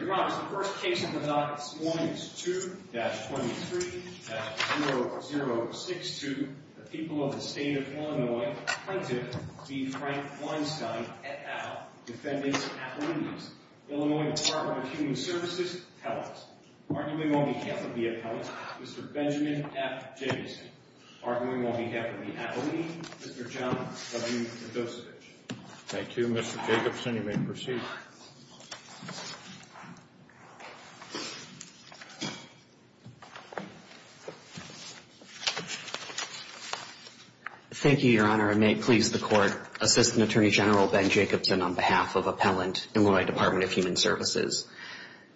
Your Honor, the first case of the night this morning is 2-23-0062, the people of the state of Illinois, Plaintiff, v. Frank Weinstein, et al., defendants, athletes, Illinois Department of Human Services, appellants. Arguing on behalf of the appellants, Mr. Benjamin F. Jacobson. Arguing on behalf of the athlete, Mr. John W. Kondosovich. Thank you, Mr. Jacobson. You may proceed. Thank you, Your Honor, and may it please the Court, Assistant Attorney General Ben Jacobson on behalf of Appellant, Illinois Department of Human Services.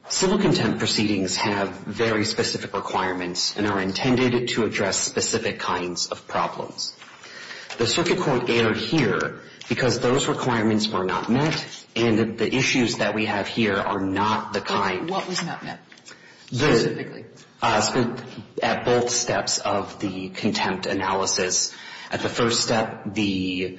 Civil contempt proceedings have very specific requirements and are intended to address specific kinds of problems. The circuit court erred here because those requirements were not met and the issues that we have here are not the kind What was not met, specifically? At both steps of the contempt analysis. At the first step, there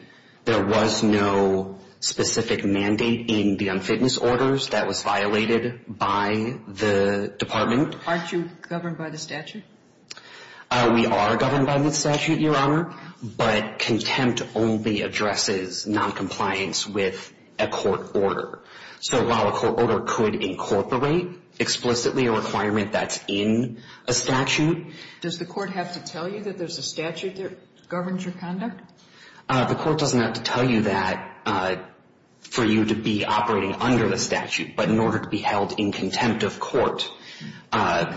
was no specific mandate in the unfitness orders that was violated by the department. Aren't you governed by the statute? We are governed by the statute, Your Honor, but contempt only addresses noncompliance with a court order. So while a court order could incorporate explicitly a requirement that's in a statute. Does the court have to tell you that there's a statute that governs your conduct? The court doesn't have to tell you that for you to be operating under the statute, but in order to be held in contempt of court,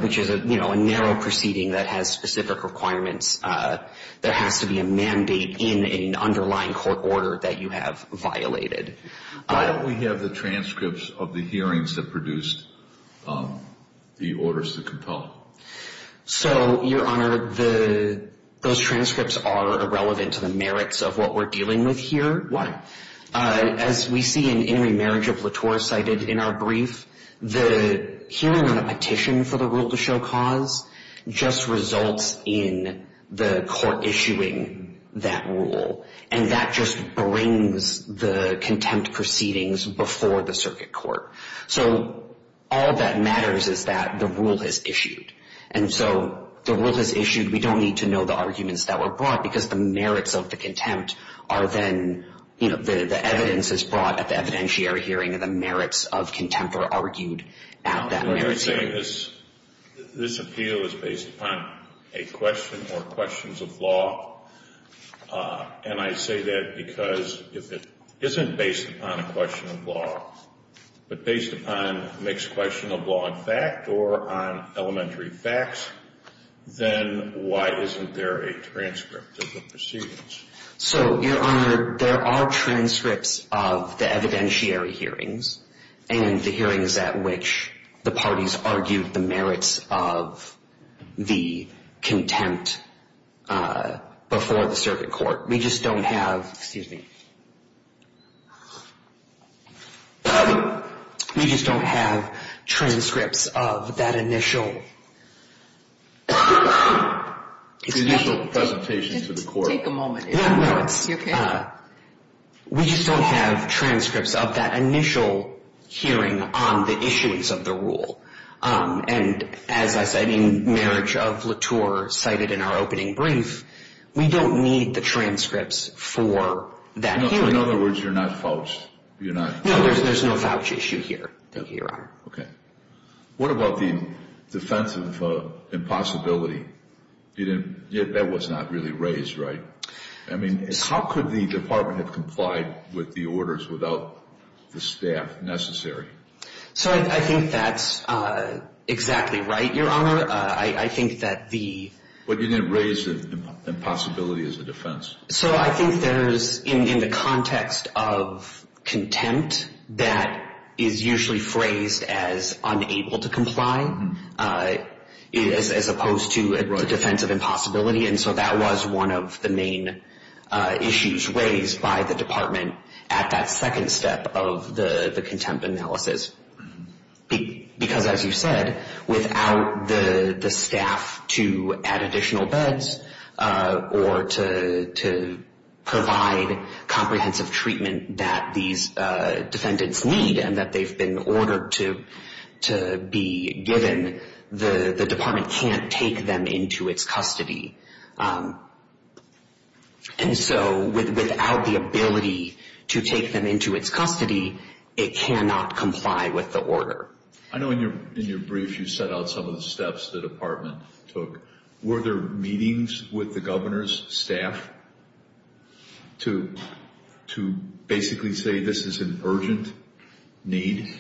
which is a narrow proceeding that has specific requirements, there has to be a mandate in an underlying court order that you have violated. Why don't we have the transcripts of the hearings that produced the orders to compel? So, Your Honor, those transcripts are irrelevant to the merits of what we're dealing with here. Why? As we see in In Remarriage of Latour cited in our brief, the hearing on a petition for the rule to show cause just results in the court issuing that rule. And that just brings the contempt proceedings before the circuit court. So all that matters is that the rule is issued. And so the rule is issued. We don't need to know the arguments that were brought, because the merits of the contempt are then, you know, the evidence is brought at the evidentiary hearing and the merits of contempt are argued at that merits hearing. This appeal is based upon a question or questions of law. And I say that because if it isn't based upon a question of law, but based upon a mixed question of law and fact or on elementary facts, then why isn't there a transcript of the proceedings? So, Your Honor, there are transcripts of the evidentiary hearings and the hearings at which the parties argued the merits of the contempt before the circuit court. We just don't have, excuse me, we just don't have transcripts of that initial presentation to the court. Take a moment. We just don't have transcripts of that initial hearing on the issues of the rule. And as I said, in marriage of Latour cited in our opening brief, we don't need the transcripts for that hearing. In other words, you're not fouched. You're not. No, there's no fouch issue here. Thank you, Your Honor. Okay. What about the defense of impossibility? That was not really raised, right? I mean, how could the department have complied with the orders without the staff necessary? So I think that's exactly right, Your Honor. I think that the — But you didn't raise the impossibility as a defense. So I think there's, in the context of contempt, that is usually phrased as unable to comply as opposed to a defense of impossibility. And so that was one of the main issues raised by the department at that second step of the contempt analysis. Because, as you said, without the staff to add additional beds or to provide comprehensive treatment that these defendants need and that they've been ordered to be given, the department can't take them into its custody. And so without the ability to take them into its custody, it cannot comply with the order. I know in your brief you set out some of the steps the department took. Were there meetings with the governor's staff to basically say this is an urgent need?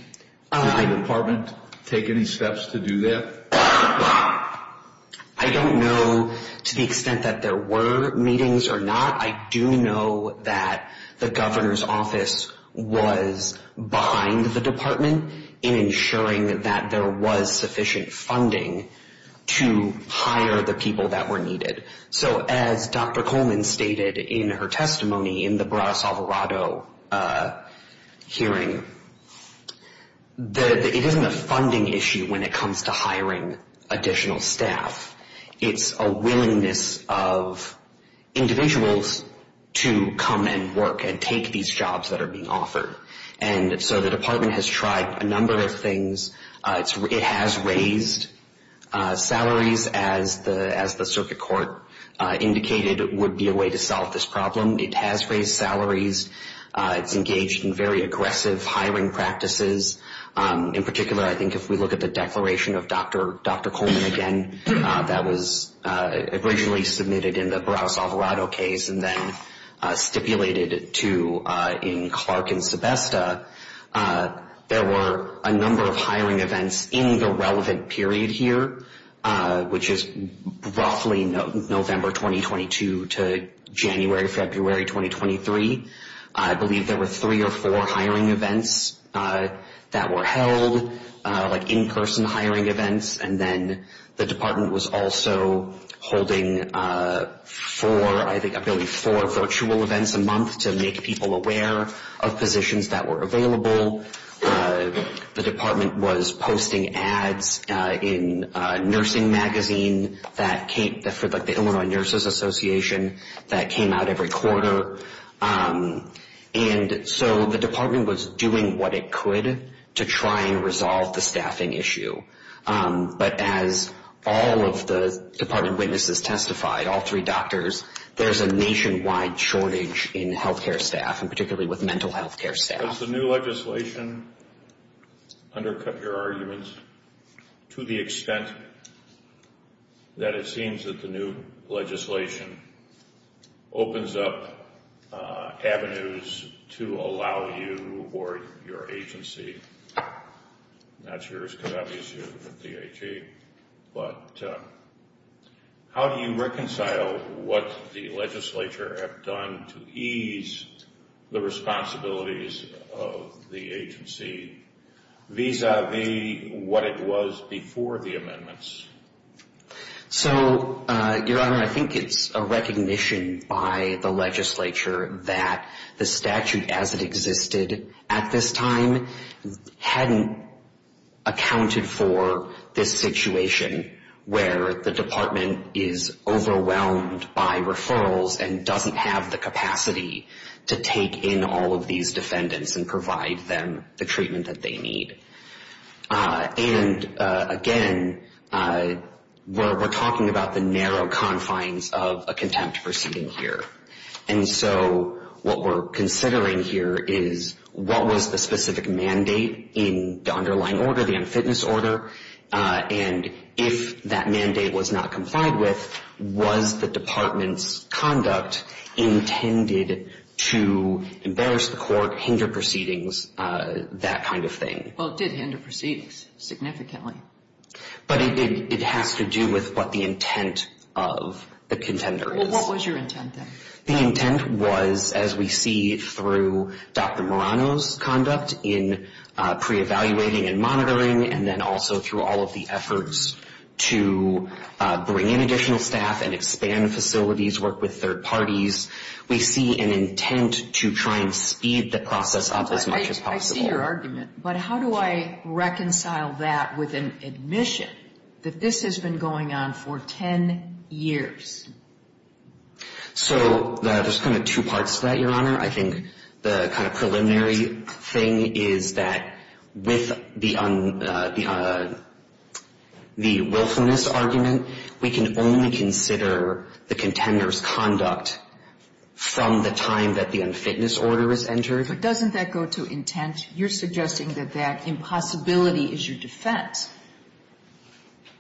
Did the department take any steps to do that? I don't know to the extent that there were meetings or not. I do know that the governor's office was behind the department in ensuring that there was sufficient funding to hire the people that were needed. So as Dr. Coleman stated in her testimony in the Bradas Alvarado hearing, it isn't a funding issue when it comes to hiring additional staff. It's a willingness of individuals to come and work and take these jobs that are being offered. And so the department has tried a number of things. It has raised salaries, as the circuit court indicated would be a way to solve this problem. It has raised salaries. It's engaged in very aggressive hiring practices. In particular, I think if we look at the declaration of Dr. Coleman again that was originally submitted in the Bradas Alvarado case and then stipulated in Clark and Sebesta, there were a number of hiring events in the relevant period here, which is roughly November 2022 to January, February 2023. I believe there were three or four hiring events that were held, like in-person hiring events. And then the department was also holding four, I believe four virtual events a month to make people aware of positions that were available. The department was posting ads in a nursing magazine for the Illinois Nurses Association that came out every quarter. And so the department was doing what it could to try and resolve the staffing issue. But as all of the department witnesses testified, all three doctors, there's a nationwide shortage in health care staff, and particularly with mental health care staff. Has the new legislation undercut your arguments to the extent that it seems that the new legislation opens up avenues to allow you or your agency, not yours because obviously you're the DAG, but how do you reconcile what the legislature have done to ease the responsibilities of the agency vis-a-vis what it was before the amendments? So, Your Honor, I think it's a recognition by the legislature that the statute as it existed at this time hadn't accounted for this situation where the department is overwhelmed by referrals and doesn't have the capacity to take in all of these defendants and provide them the treatment that they need. And again, we're talking about the narrow confines of a contempt proceeding here. And so what we're considering here is what was the specific mandate in the underlying order, the unfitness order, and if that mandate was not complied with, was the department's conduct intended to embarrass the court, hinder proceedings, that kind of thing? Well, it did hinder proceedings significantly. But it has to do with what the intent of the contender is. Well, what was your intent then? The intent was, as we see through Dr. Marano's conduct in pre-evaluating and monitoring and then also through all of the efforts to bring in additional staff and expand facilities, work with third parties, we see an intent to try and speed the process up as much as possible. I see your argument. But how do I reconcile that with an admission that this has been going on for 10 years? So there's kind of two parts to that, Your Honor. I think the kind of preliminary thing is that with the willfulness argument, we can only consider the contender's conduct from the time that the unfitness order is entered. But doesn't that go to intent? You're suggesting that that impossibility is your defense,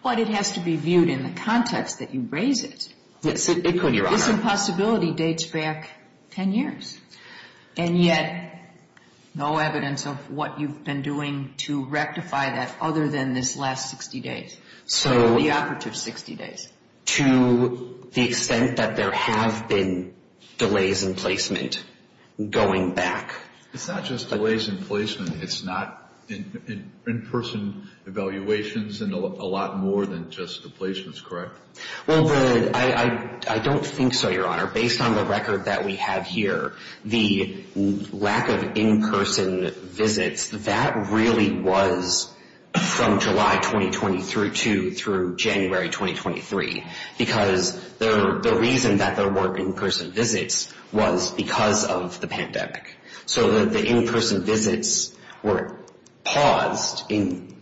but it has to be viewed in the context that you raise it. Yes, it could, Your Honor. This impossibility dates back 10 years, and yet no evidence of what you've been doing to rectify that other than this last 60 days, the operative 60 days, to the extent that there have been delays in placement going back. It's not just delays in placement. It's not in-person evaluations and a lot more than just the placements, correct? Well, I don't think so, Your Honor. Based on the record that we have here, the lack of in-person visits, that really was from July 2020 through January 2023, because the reason that there weren't in-person visits was because of the pandemic. So the in-person visits were paused in,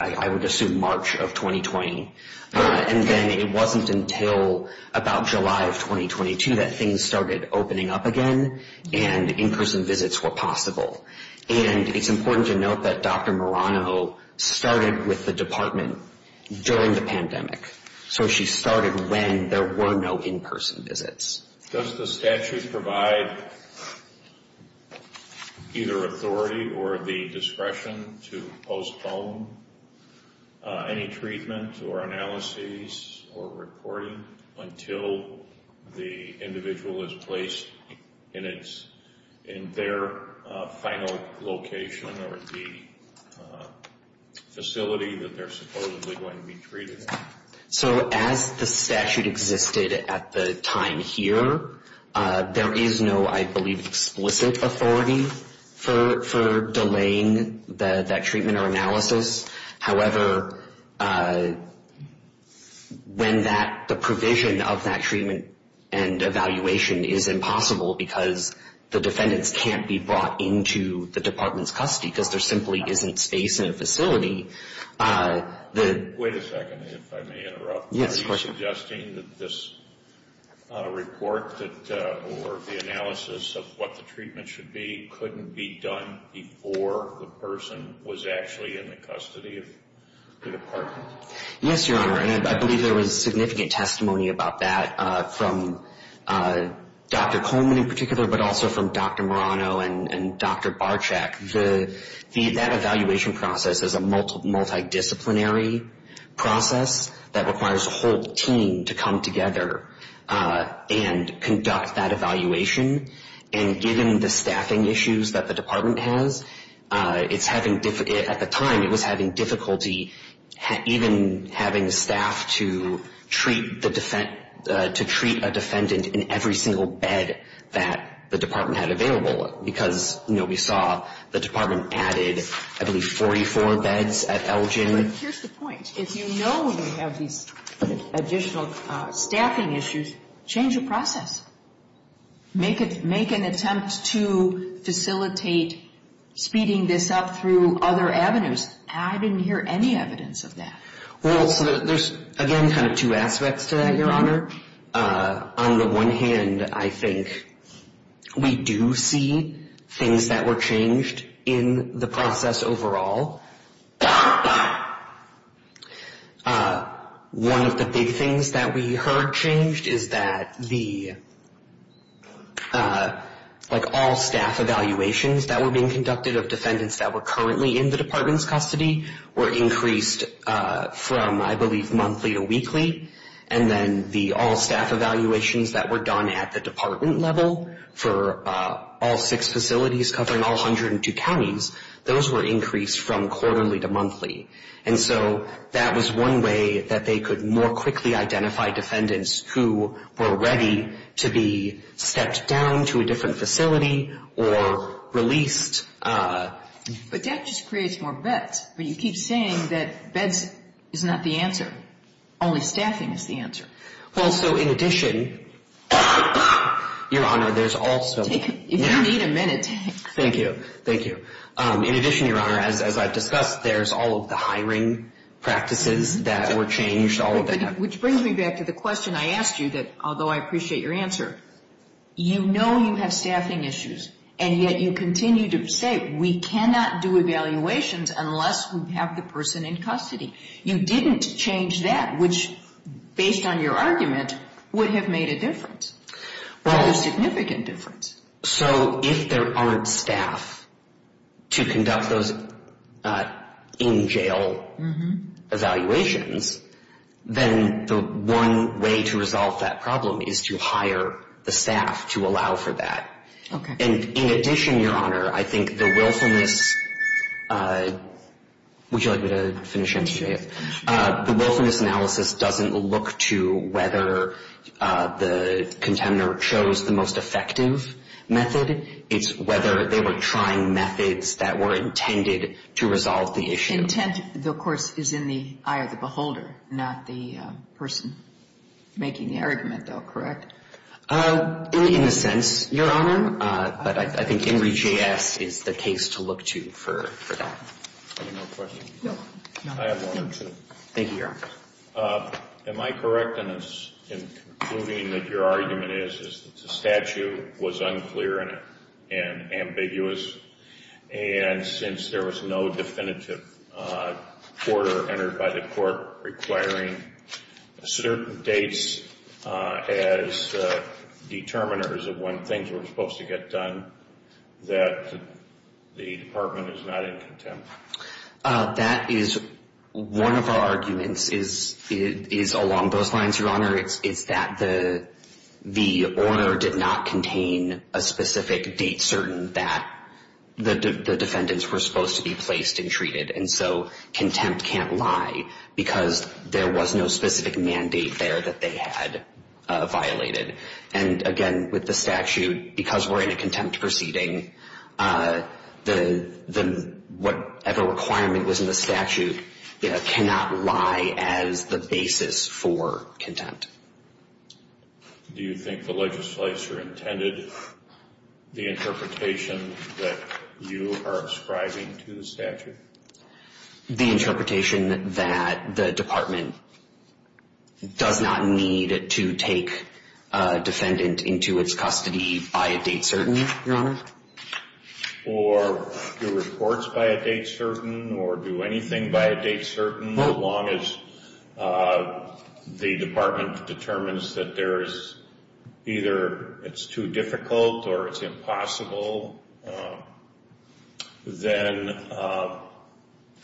I would assume, March of 2020. And then it wasn't until about July of 2022 that things started opening up again and in-person visits were possible. And it's important to note that Dr. Marano started with the department during the pandemic. So she started when there were no in-person visits. Does the statute provide either authority or the discretion to postpone any treatment or analyses or reporting until the individual is placed in their final location or the facility that they're supposedly going to be treated at? So as the statute existed at the time here, there is no, I believe, explicit authority for delaying that treatment or analysis. However, when the provision of that treatment and evaluation is impossible because the defendants can't be brought into the department's custody Wait a second, if I may interrupt. Yes, of course. Are you suggesting that this report or the analysis of what the treatment should be couldn't be done before the person was actually in the custody of the department? Yes, Your Honor. And I believe there was significant testimony about that from Dr. Coleman in particular, but also from Dr. Marano and Dr. Barczyk. That evaluation process is a multidisciplinary process that requires a whole team to come together and conduct that evaluation. And given the staffing issues that the department has, at the time it was having difficulty even having staff to treat a defendant in every single bed that the department had available because we saw the department added, I believe, 44 beds at Elgin. But here's the point. If you know we have these additional staffing issues, change the process. Make an attempt to facilitate speeding this up through other avenues. I didn't hear any evidence of that. Well, there's, again, kind of two aspects to that, Your Honor. On the one hand, I think we do see things that were changed in the process overall. One of the big things that we heard changed is that all staff evaluations that were being conducted of defendants that were currently in the department's custody were increased from, I believe, monthly to weekly. And then the all staff evaluations that were done at the department level for all six facilities covering all 102 counties, those were increased from quarterly to monthly. And so that was one way that they could more quickly identify defendants who were ready to be stepped down to a different facility or released. But that just creates more beds. But you keep saying that beds is not the answer. Only staffing is the answer. Well, so in addition, Your Honor, there's also… If you need a minute… Thank you. Thank you. In addition, Your Honor, as I've discussed, there's all of the hiring practices that were changed, all of that. Which brings me back to the question I asked you, although I appreciate your answer. You know you have staffing issues, and yet you continue to say we cannot do evaluations unless we have the person in custody. You didn't change that, which, based on your argument, would have made a difference, or a significant difference. So if there aren't staff to conduct those in-jail evaluations, then the one way to resolve that problem is to hire the staff to allow for that. Okay. And in addition, Your Honor, I think the willfulness… Would you like me to finish? The willfulness analysis doesn't look to whether the contender chose the most effective method. It's whether they were trying methods that were intended to resolve the issue. Intent, of course, is in the eye of the beholder, not the person making the argument, though, correct? In a sense, Your Honor. But I think INRI J.S. is the case to look to for that. Any more questions? No. I have one or two. Thank you, Your Honor. Am I correct in concluding that your argument is that the statute was unclear and ambiguous? And since there was no definitive order entered by the court requiring certain dates as determiners of when things were supposed to get done, that the department is not in contempt? That is one of our arguments is along those lines, Your Honor. It's that the order did not contain a specific date certain that the defendants were supposed to be placed and treated. And so contempt can't lie because there was no specific mandate there that they had violated. And, again, with the statute, because we're in a contempt proceeding, whatever requirement was in the statute cannot lie as the basis for contempt. Do you think the legislature intended the interpretation that you are ascribing to the statute? The interpretation that the department does not need to take a defendant into its custody by a date certain, Your Honor. Or do reports by a date certain or do anything by a date certain, as long as the department determines that there is either it's too difficult or it's impossible, then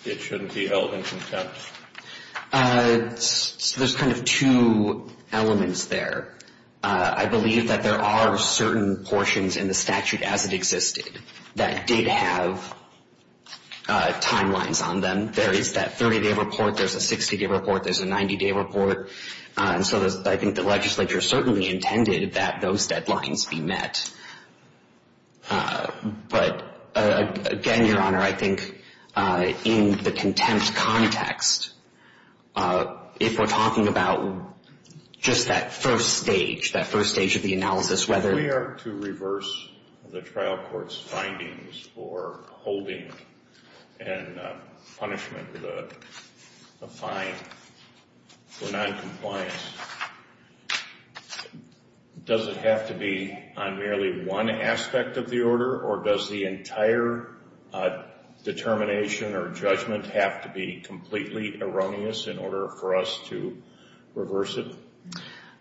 it shouldn't be held in contempt. There's kind of two elements there. I believe that there are certain portions in the statute as it existed that did have timelines on them. There is that 30-day report. There's a 60-day report. There's a 90-day report. And so I think the legislature certainly intended that those deadlines be met. But, again, Your Honor, I think in the contempt context, if we're talking about just that first stage, that first stage of the analysis, whether we are to reverse the trial court's findings for holding and punishment of the fine for noncompliance, does it have to be on merely one aspect of the order? Or does the entire determination or judgment have to be completely erroneous in order for us to reverse it?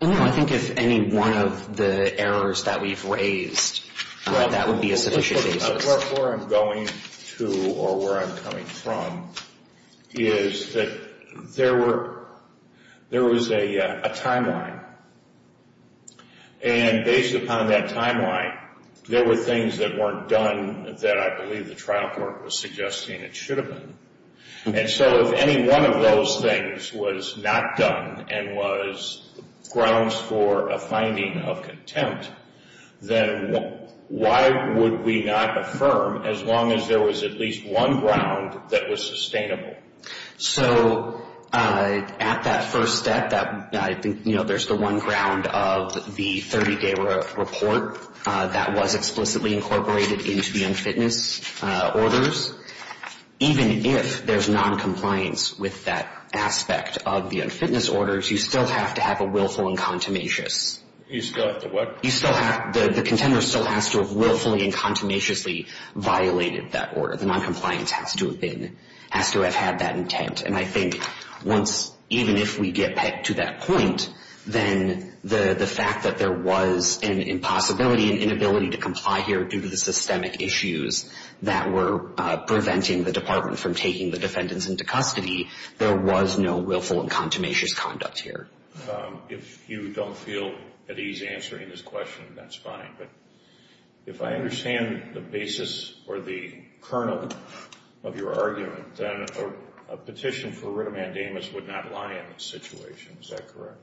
I think if any one of the errors that we've raised, that would be a sufficient basis. Where I'm going to or where I'm coming from is that there was a timeline. And based upon that timeline, there were things that weren't done that I believe the trial court was suggesting it should have been. And so if any one of those things was not done and was grounds for a finding of contempt, then why would we not affirm as long as there was at least one ground that was sustainable? So at that first step, I think there's the one ground of the 30-day report that was explicitly incorporated into the unfitness orders. Even if there's noncompliance with that aspect of the unfitness orders, you still have to have a willful and contumacious. You still have to what? The contender still has to have willfully and contumaciously violated that order. The noncompliance has to have had that intent. And I think once, even if we get to that point, then the fact that there was an impossibility, an inability to comply here due to the systemic issues that were preventing the department from taking the defendants into custody, there was no willful and contumacious conduct here. If you don't feel at ease answering this question, that's fine. But if I understand the basis or the kernel of your argument, then a petition for writ of mandamus would not lie in this situation. Is that correct?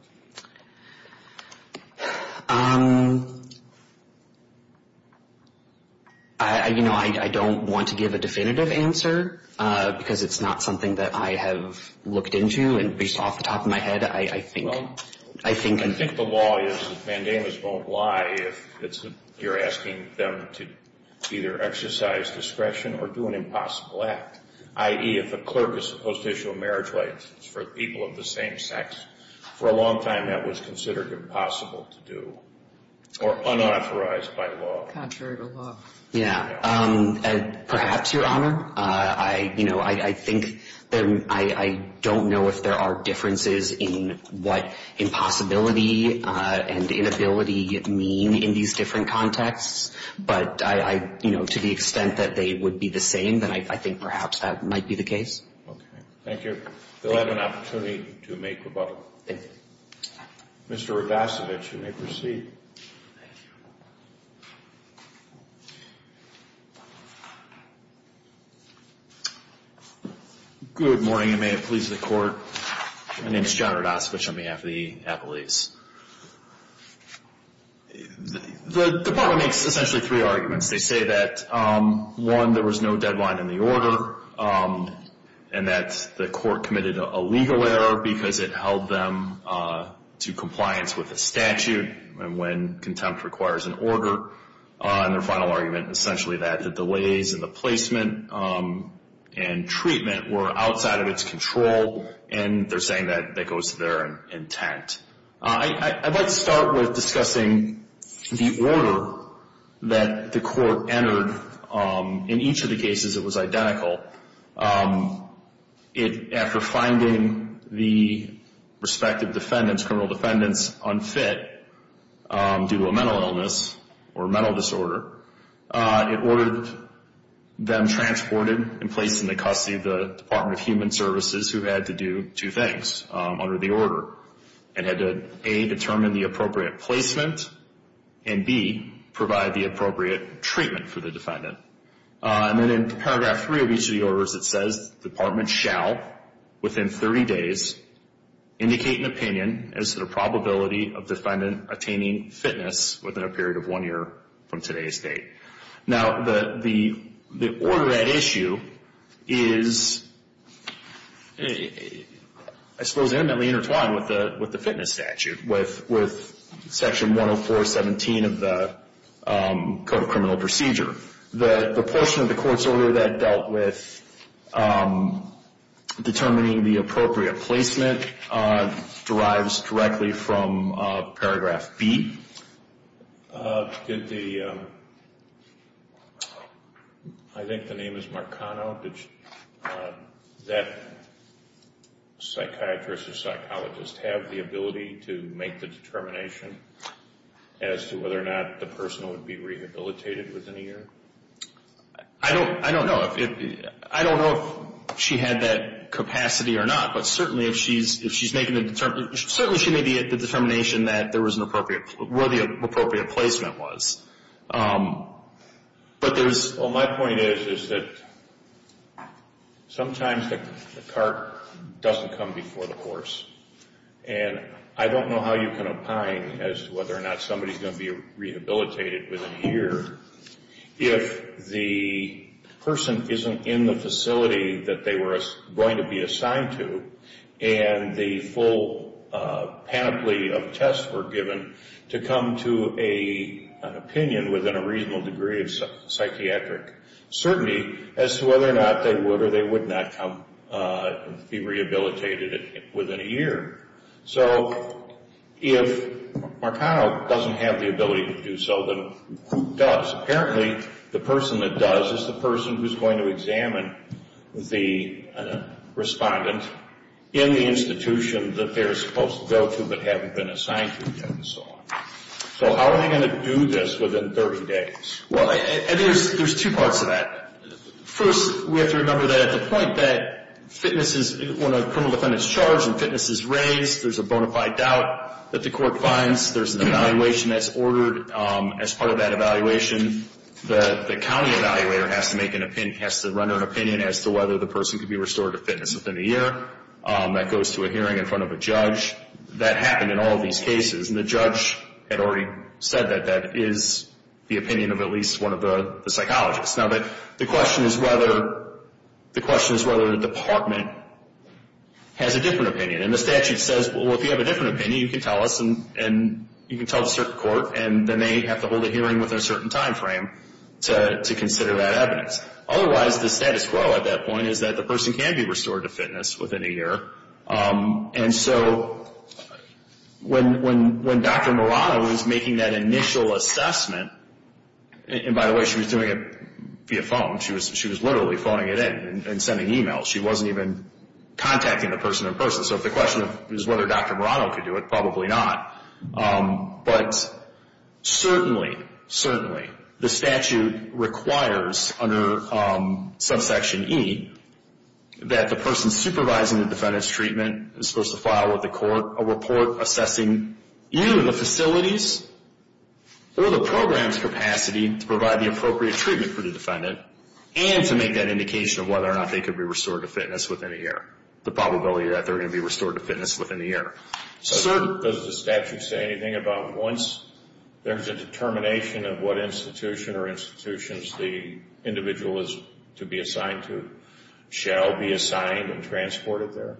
You know, I don't want to give a definitive answer because it's not something that I have looked into. And based off the top of my head, I think the law is that mandamus won't lie if you're asking them to either exercise discretion or do an impossible act, i.e., if a clerk is supposed to issue a marriage license for people of the same sex. For a long time, that was considered impossible to do or unauthorized by law. Contrary to law. Yeah. Perhaps, Your Honor. I, you know, I think that I don't know if there are differences in what impossibility and inability mean in these different contexts. But I, you know, to the extent that they would be the same, then I think perhaps that might be the case. Okay. Thank you. They'll have an opportunity to make rebuttal. Thank you. Mr. Rabasovich, you may proceed. Thank you. Good morning, and may it please the Court. My name is John Rabasovich on behalf of the appellees. The department makes essentially three arguments. They say that, one, there was no deadline in the order, and that the court committed a legal error because it held them to compliance with the statute. And when contempt requires an order. And their final argument, essentially, that the delays in the placement and treatment were outside of its control. And they're saying that that goes to their intent. I'd like to start with discussing the order that the court entered. In each of the cases, it was identical. After finding the respective defendants, criminal defendants, unfit due to a mental illness or mental disorder, it ordered them transported and placed in the custody of the Department of Human Services, who had to do two things under the order. It had to, A, determine the appropriate placement, and B, provide the appropriate treatment for the defendant. And then in paragraph three of each of the orders, it says, the department shall, within 30 days, indicate an opinion as to the probability of the defendant attaining fitness within a period of one year from today's date. Now, the order at issue is, I suppose, intimately intertwined with the fitness statute, with section 104.17 of the Code of Criminal Procedure. The portion of the court's order that dealt with determining the appropriate placement derives directly from paragraph B. Did the, I think the name is Marcano. Did that psychiatrist or psychologist have the ability to make the determination as to whether or not the person would be rehabilitated within a year? I don't know if she had that capacity or not. But certainly, if she's making the determination, certainly she made the determination that there was an appropriate, where the appropriate placement was. But there's… Well, my point is, is that sometimes the cart doesn't come before the horse. And I don't know how you can opine as to whether or not somebody's going to be rehabilitated within a year if the person isn't in the facility that they were going to be assigned to and the full panoply of tests were given to come to an opinion within a reasonable degree of psychiatric certainty as to whether or not they would or they would not be rehabilitated within a year. So if Marcano doesn't have the ability to do so, then who does? Apparently, the person that does is the person who's going to examine the respondent in the institution that they're supposed to go to but haven't been assigned to yet and so on. So how are they going to do this within 30 days? Well, I think there's two parts to that. First, we have to remember that at the point that fitness is, when a criminal defendant's charged and fitness is raised, there's a bona fide doubt that the court finds. There's an evaluation that's ordered as part of that evaluation. The county evaluator has to make an opinion, has to render an opinion as to whether the person could be restored to fitness within a year. That goes to a hearing in front of a judge. That happened in all of these cases. And the judge had already said that that is the opinion of at least one of the psychologists. Now, the question is whether the department has a different opinion. And the statute says, well, if you have a different opinion, you can tell us and you can tell the circuit court, and then they have to hold a hearing within a certain time frame to consider that evidence. Otherwise, the status quo at that point is that the person can be restored to fitness within a year. And so when Dr. Marano was making that initial assessment, and by the way, she was doing it via phone. She was literally phoning it in and sending emails. She wasn't even contacting the person in person. So if the question is whether Dr. Marano could do it, probably not. But certainly, certainly the statute requires under subsection E that the person supervising the defendant's treatment is supposed to file with the court a report assessing either the facility's or the program's capacity to provide the appropriate treatment for the defendant and to make that indication of whether or not they could be restored to fitness within a year, the probability that they're going to be restored to fitness within a year. So does the statute say anything about once there's a determination of what institution or institutions the individual is to be assigned to shall be assigned and transported there?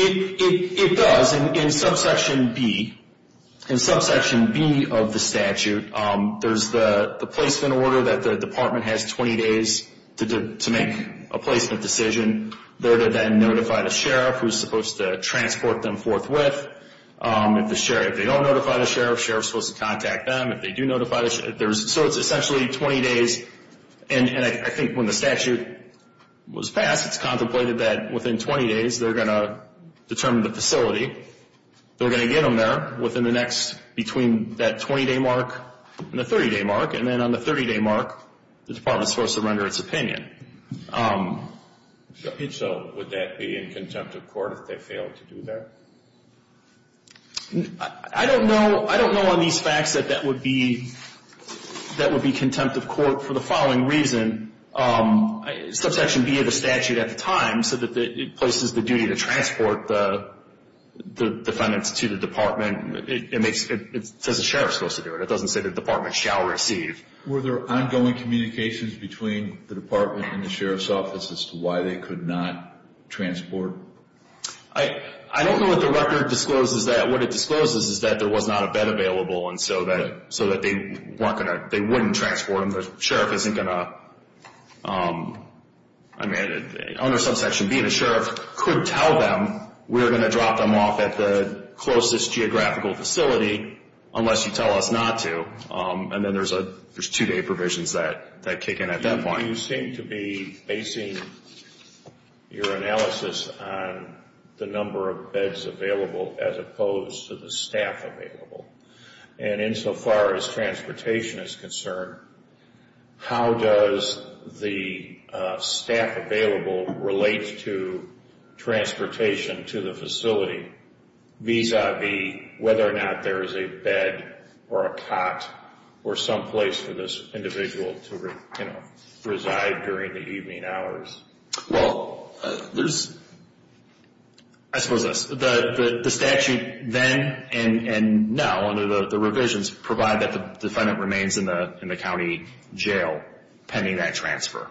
It does. In subsection B of the statute, there's the placement order that the department has 20 days to make a placement decision. They're to then notify the sheriff who's supposed to transport them forthwith. If they don't notify the sheriff, sheriff's supposed to contact them. If they do notify the sheriff, there's – so it's essentially 20 days. And I think when the statute was passed, it's contemplated that within 20 days, they're going to determine the facility. They're going to get them there within the next – between that 20-day mark and the 30-day mark. And then on the 30-day mark, the department's supposed to render its opinion. So would that be in contempt of court if they failed to do that? I don't know. I don't know on these facts that that would be contempt of court for the following reason. Subsection B of the statute at the time said that it places the duty to transport the defendants to the department. It makes – it says the sheriff's supposed to do it. It doesn't say the department shall receive. Were there ongoing communications between the department and the sheriff's office as to why they could not transport? I don't know what the record discloses that. What it discloses is that there was not a bed available and so that they weren't going to – they wouldn't transport them. The sheriff isn't going to – I mean, under subsection B, the sheriff could tell them we're going to drop them off at the closest geographical facility unless you tell us not to. And then there's two-day provisions that kick in at that point. You seem to be basing your analysis on the number of beds available as opposed to the staff available. And insofar as transportation is concerned, how does the staff available relate to transportation to the facility vis-a-vis whether or not there is a bed or a cot or some place for this individual to reside during the evening hours? Well, there's – I suppose that's – the statute then and now under the revisions provide that the defendant remains in the county jail pending that transfer.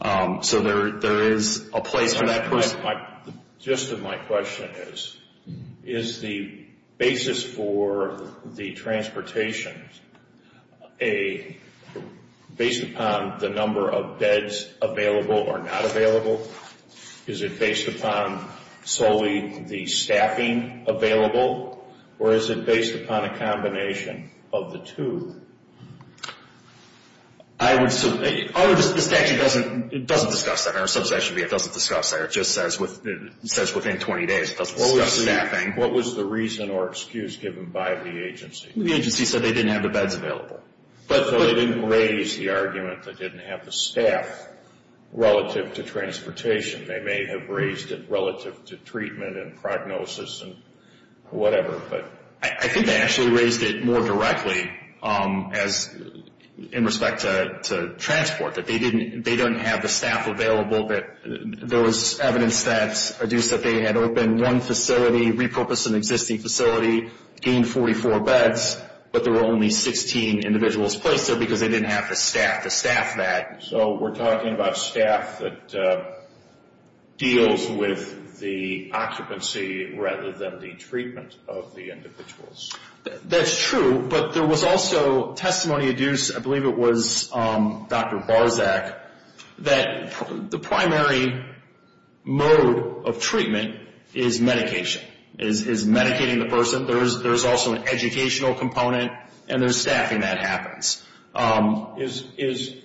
So there is a place for that person. My – the gist of my question is, is the basis for the transportation a – based upon the number of beds available or not available? Is it based upon solely the staffing available? Or is it based upon a combination of the two? I would – the statute doesn't discuss that. Our subsection B, it doesn't discuss that. It just says within 20 days. It doesn't discuss staffing. What was the reason or excuse given by the agency? The agency said they didn't have the beds available. But they didn't raise the argument that they didn't have the staff relative to transportation. They may have raised it relative to treatment and prognosis and whatever. But I think they actually raised it more directly as – in respect to transport. That they didn't have the staff available. That there was evidence that – that they had opened one facility, repurposed an existing facility, gained 44 beds, but there were only 16 individuals placed there because they didn't have the staff to staff that. So we're talking about staff that deals with the occupancy rather than the treatment of the individuals. That's true. But there was also testimony adduced. I believe it was Dr. Barczak, that the primary mode of treatment is medication, is medicating the person. There's also an educational component and there's staffing that happens. Is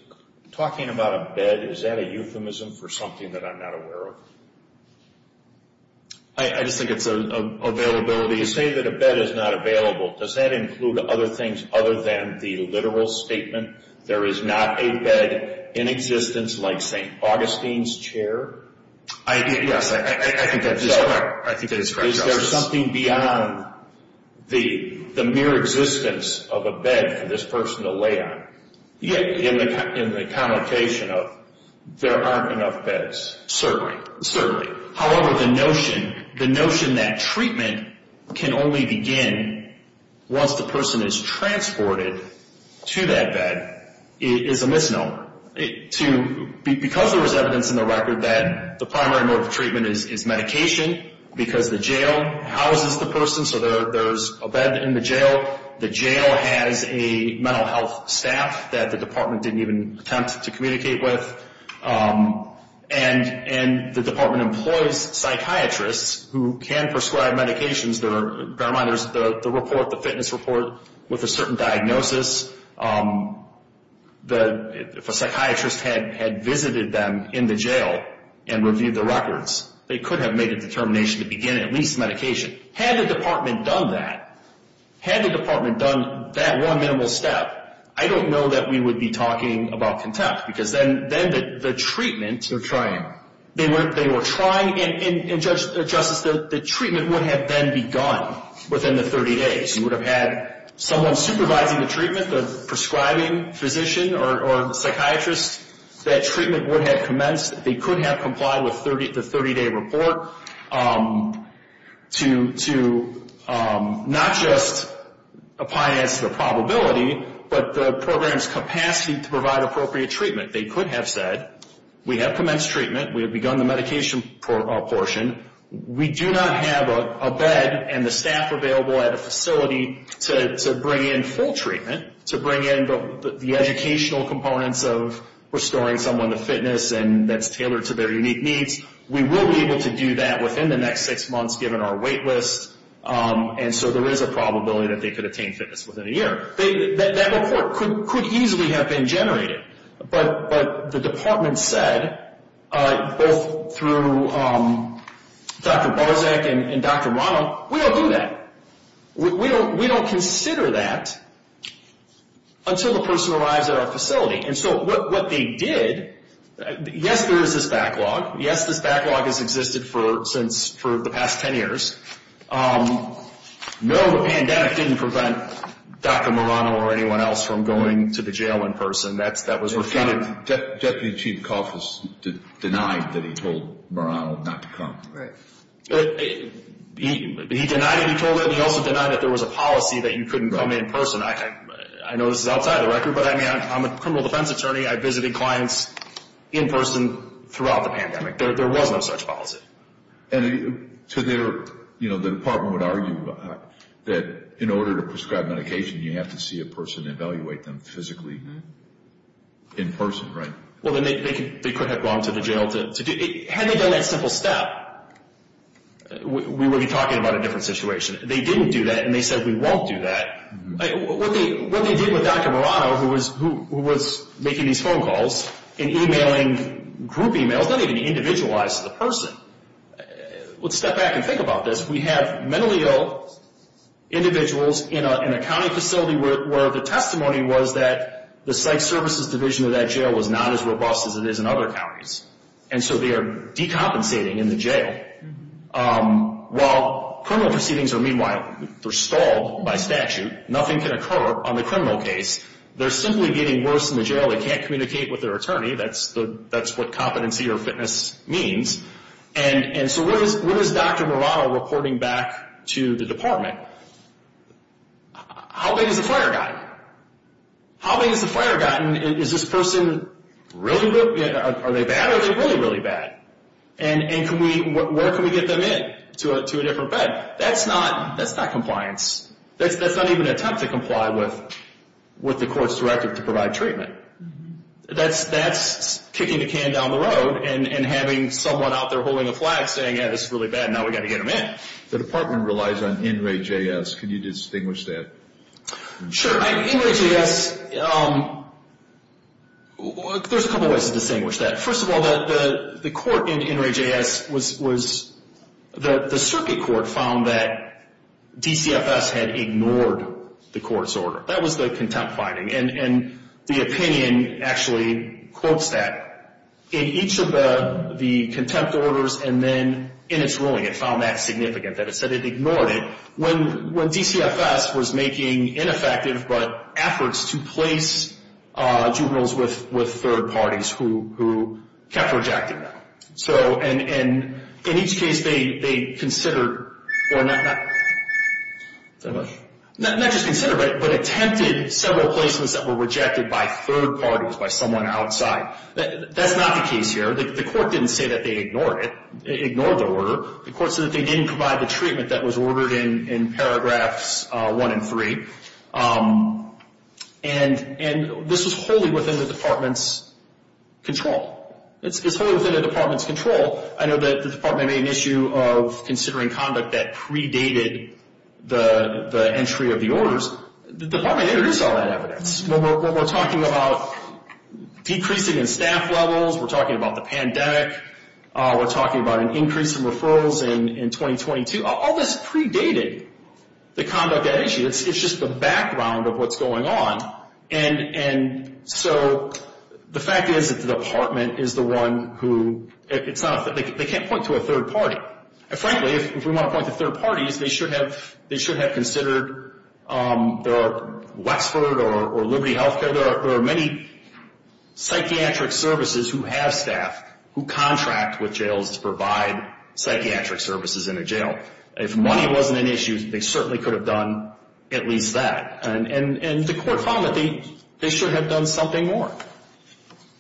talking about a bed, is that a euphemism for something that I'm not aware of? I just think it's an availability. You say that a bed is not available. Does that include other things other than the literal statement, there is not a bed in existence like St. Augustine's chair? Yes, I think that is correct. Is there something beyond the mere existence of a bed for this person to lay on? Yeah. In the connotation of there aren't enough beds. Certainly. However, the notion that treatment can only begin once the person is transported to that bed is a misnomer. Because there was evidence in the record that the primary mode of treatment is medication because the jail houses the person, so there's a bed in the jail. The jail has a mental health staff that the department didn't even attempt to communicate with. And the department employs psychiatrists who can prescribe medications. Bear in mind, there's the report, the fitness report, with a certain diagnosis. If a psychiatrist had visited them in the jail and reviewed the records, they could have made a determination to begin at least medication. Had the department done that, had the department done that one minimal step, I don't know that we would be talking about contempt because then the treatment. They're trying. They were trying. And, Justice, the treatment would have then begun within the 30 days. You would have had someone supervising the treatment, the prescribing physician or psychiatrist, that treatment would have commenced. They could have complied with the 30-day report to not just apply it as to the probability, but the program's capacity to provide appropriate treatment. They could have said, we have commenced treatment. We have begun the medication portion. We do not have a bed and the staff available at a facility to bring in full treatment, to bring in the educational components of restoring someone to fitness and that's tailored to their unique needs. We will be able to do that within the next six months given our wait list. And so there is a probability that they could attain fitness within a year. That report could easily have been generated. But the department said, both through Dr. Barczyk and Dr. Rano, we don't do that. We don't consider that until the person arrives at our facility. And so what they did, yes, there is this backlog. Yes, this backlog has existed for the past 10 years. No, the pandemic didn't prevent Dr. Marano or anyone else from going to the jail in person. That was refuted. Deputy Chief Koff has denied that he told Marano not to come. He denied it. He also denied that there was a policy that you couldn't come in person. I know this is outside the record, but I'm a criminal defense attorney. I visited clients in person throughout the pandemic. There was no such policy. And so the department would argue that in order to prescribe medication, you have to see a person and evaluate them physically in person, right? Well, they could have gone to the jail. Had they done that simple step, we would be talking about a different situation. They didn't do that, and they said we won't do that. What they did with Dr. Marano, who was making these phone calls and emailing group emails, not even individualized to the person. Let's step back and think about this. We have mentally ill individuals in a county facility where the testimony was that the psych services division of that jail was not as robust as it is in other counties. And so they are decompensating in the jail. While criminal proceedings are, meanwhile, they're stalled by statute, nothing can occur on the criminal case. They're simply getting worse in the jail. They can't communicate with their attorney. That's what competency or fitness means. And so what is Dr. Marano reporting back to the department? How big has the fire gotten? How big has the fire gotten? Is this person really good? Are they bad, or are they really, really bad? And where can we get them in to a different bed? That's not compliance. That's not even an attempt to comply with the court's directive to provide treatment. That's kicking the can down the road and having someone out there holding a flag saying, yeah, this is really bad, and now we've got to get them in. The department relies on NRAJS. Can you distinguish that? Sure. NRAJS, there's a couple ways to distinguish that. First of all, the court in NRAJS was the circuit court found that DCFS had ignored the court's order. That was the contempt finding, and the opinion actually quotes that. In each of the contempt orders and then in its ruling, it found that significant, that it said it ignored it. When DCFS was making ineffective but efforts to place juveniles with third parties who kept rejecting them, and in each case they considered, or not just considered, but attempted several placements that were rejected by third parties, by someone outside. That's not the case here. The court didn't say that they ignored it, ignored the order. The court said that they didn't provide the treatment that was ordered in paragraphs one and three, and this was wholly within the department's control. It's wholly within the department's control. I know that the department made an issue of considering conduct that predated the entry of the orders. The department introduced all that evidence. We're talking about decreasing in staff levels. We're talking about the pandemic. We're talking about an increase in referrals in 2022. All this predated the conduct at issue. It's just the background of what's going on. And so the fact is that the department is the one who, it's not, they can't point to a third party. And frankly, if we want to point to third parties, they should have considered Westford or Liberty Healthcare. There are many psychiatric services who have staff who contract with jails to provide psychiatric services in a jail. If money wasn't an issue, they certainly could have done at least that. And the court found that they should have done something more.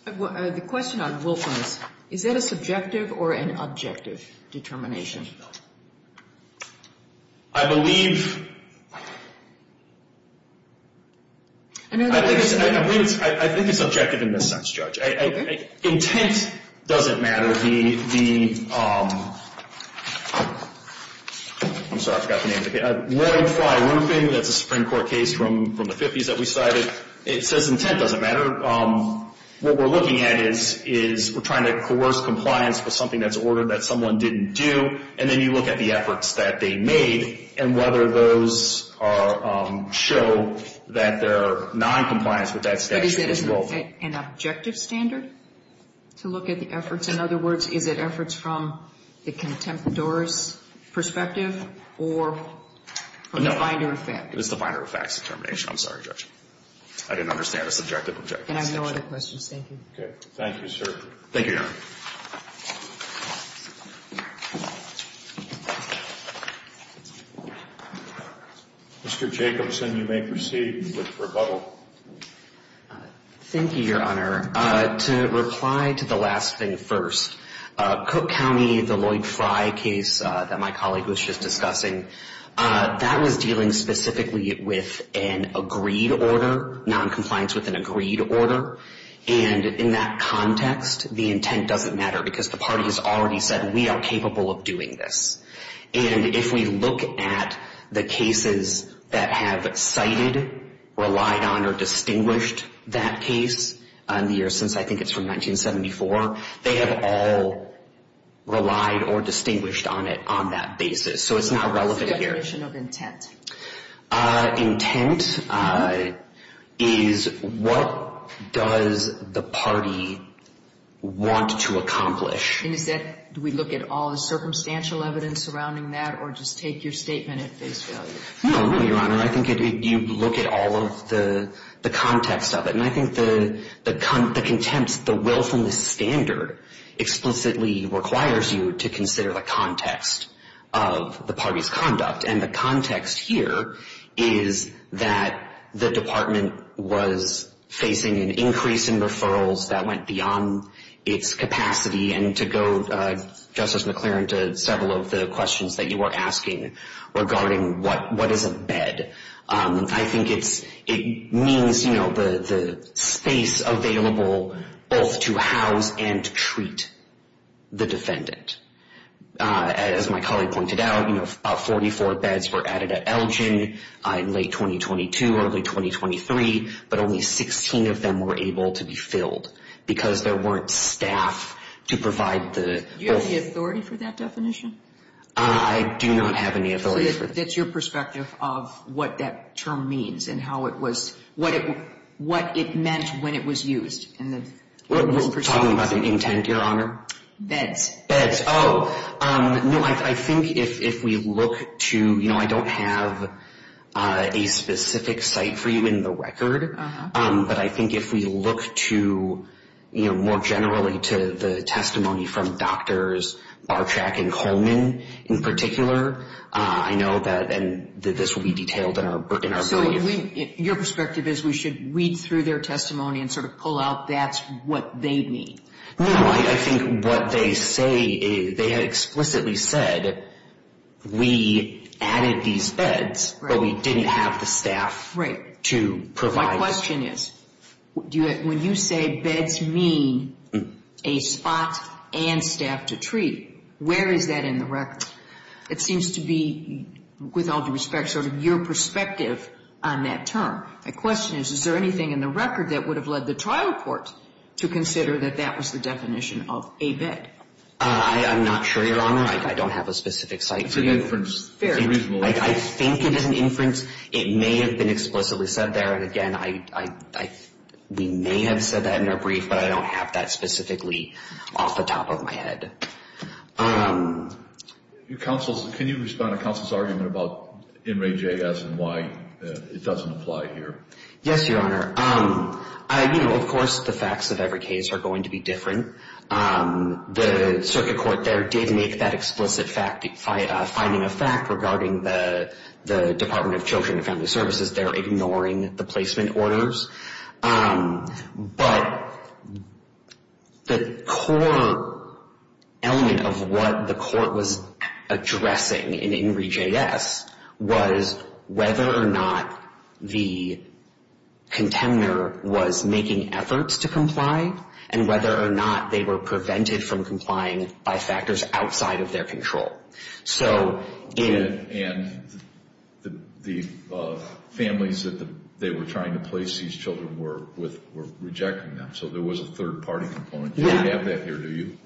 The question on Wilkins, is that a subjective or an objective determination? I believe, I think it's objective in this sense, Judge. Okay. Intent doesn't matter. The, I'm sorry, I forgot the name of the case. Ward 5 Roofing, that's a Supreme Court case from the 50s that we cited. It says intent doesn't matter. What we're looking at is we're trying to coerce compliance with something that's ordered that someone didn't do. And then you look at the efforts that they made and whether those show that they're noncompliance with that statute as well. But is it an objective standard to look at the efforts? In other words, is it efforts from the contemptor's perspective or from the binder of facts? It's the binder of facts determination. I'm sorry, Judge. I didn't understand a subjective objective. And I have no other questions. Thank you. Okay. Thank you, sir. Thank you, Your Honor. Mr. Jacobson, you may proceed with rebuttal. Thank you, Your Honor. To reply to the last thing first, Cook County, the Lloyd Fry case that my colleague was just discussing, that was dealing specifically with an agreed order, noncompliance with an agreed order. And in that context, the intent doesn't matter because the party has already said we are capable of doing this. And if we look at the cases that have cited, relied on, or distinguished that case in the years since, I think it's from 1974, they have all relied or distinguished on it on that basis. So it's not relevant here. What's the definition of intent? Intent is what does the party want to accomplish. And is that, do we look at all the circumstantial evidence surrounding that or just take your statement at face value? No, no, Your Honor. I think you look at all of the context of it. And I think the contempt, the willfulness standard explicitly requires you to consider the context of the party's conduct. And the context here is that the department was facing an increase in referrals that went beyond its capacity. And to go, Justice McClaren, to several of the questions that you were asking regarding what is a bed, I think it's, it means, you know, the space available both to house and treat the defendant. As my colleague pointed out, you know, about 44 beds were added at Elgin in late 2022, early 2023, but only 16 of them were able to be filled because there weren't staff to provide the. Do you have the authority for that definition? I do not have any authority. That's your perspective of what that term means and how it was, what it meant when it was used. Talking about the intent, Your Honor? Beds. Beds. Oh, no, I think if we look to, you know, I don't have a specific site for you in the record. But I think if we look to, you know, more generally to the testimony from doctors, Bartrack and Coleman in particular, I know that this will be detailed in our brief. So your perspective is we should read through their testimony and sort of pull out that's what they mean? No, I think what they say, they had explicitly said we added these beds, but we didn't have the staff to provide. My question is, when you say beds mean a spot and staff to treat, where is that in the record? It seems to be, with all due respect, sort of your perspective on that term. My question is, is there anything in the record that would have led the trial court to consider that that was the definition of a bed? I'm not sure, Your Honor. I don't have a specific site for you. I think it is an inference. It may have been explicitly said there. And, again, we may have said that in our brief, but I don't have that specifically off the top of my head. Can you respond to counsel's argument about NRAJS and why it doesn't apply here? Yes, Your Honor. You know, of course the facts of every case are going to be different. The circuit court there did make that explicit finding of fact regarding the Department of Children and Family Services. They're ignoring the placement orders. But the core element of what the court was addressing in NRAJS was whether or not the contender was making efforts to comply and whether or not they were prevented from complying by factors outside of their control. And the families that they were trying to place these children were rejecting them, so there was a third-party component. You don't have that here, do you?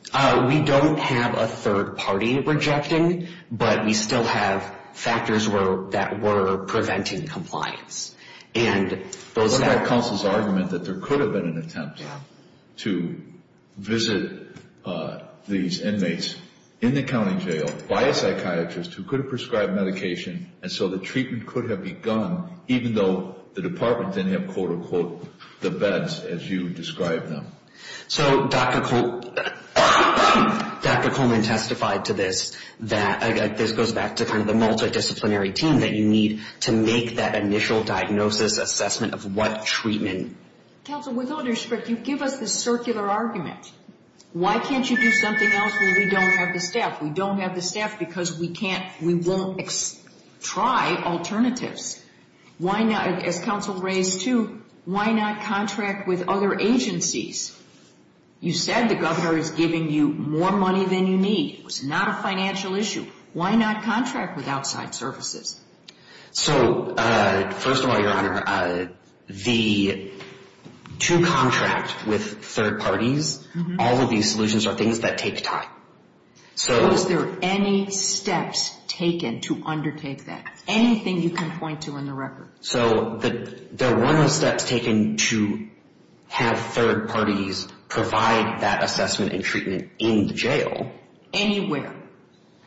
We don't have a third party rejecting, but we still have factors that were preventing compliance. What about counsel's argument that there could have been an attempt to visit these inmates in the county jail by a psychiatrist who could have prescribed medication, and so the treatment could have begun, even though the department didn't have, quote, unquote, the beds as you described them? So Dr. Coleman testified to this. This goes back to kind of the multidisciplinary team that you need to make that initial diagnosis assessment of what treatment. Counsel, with all due respect, you give us this circular argument. Why can't you do something else when we don't have the staff? We don't have the staff because we won't try alternatives. As counsel raised, too, why not contract with other agencies? You said the governor is giving you more money than you need. It was not a financial issue. Why not contract with outside services? So first of all, Your Honor, to contract with third parties, all of these solutions are things that take time. Was there any steps taken to undertake that, anything you can point to in the record? So there were no steps taken to have third parties provide that assessment and treatment in the jail. Anywhere?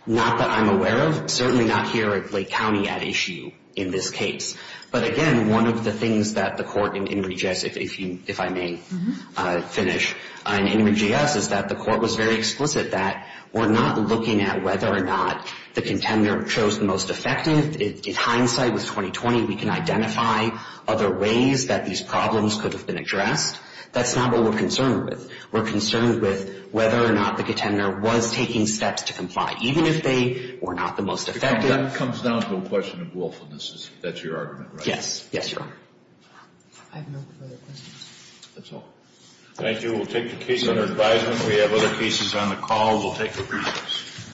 Not that I'm aware of. Certainly not here at Lake County at issue in this case. But again, one of the things that the court in Henry J.S., if I may finish, in Henry J.S., is that the court was very explicit that we're not looking at whether or not the contender chose the most effective. In hindsight, with 2020, we can identify other ways that these problems could have been addressed. That's not what we're concerned with. We're concerned with whether or not the contender was taking steps to comply, even if they were not the most effective. That comes down to a question of willfulness. That's your argument, right? Yes. Yes, Your Honor. I have no further questions. That's all. Thank you. We'll take the case under advisement. We have other cases on the call. We'll take a recess.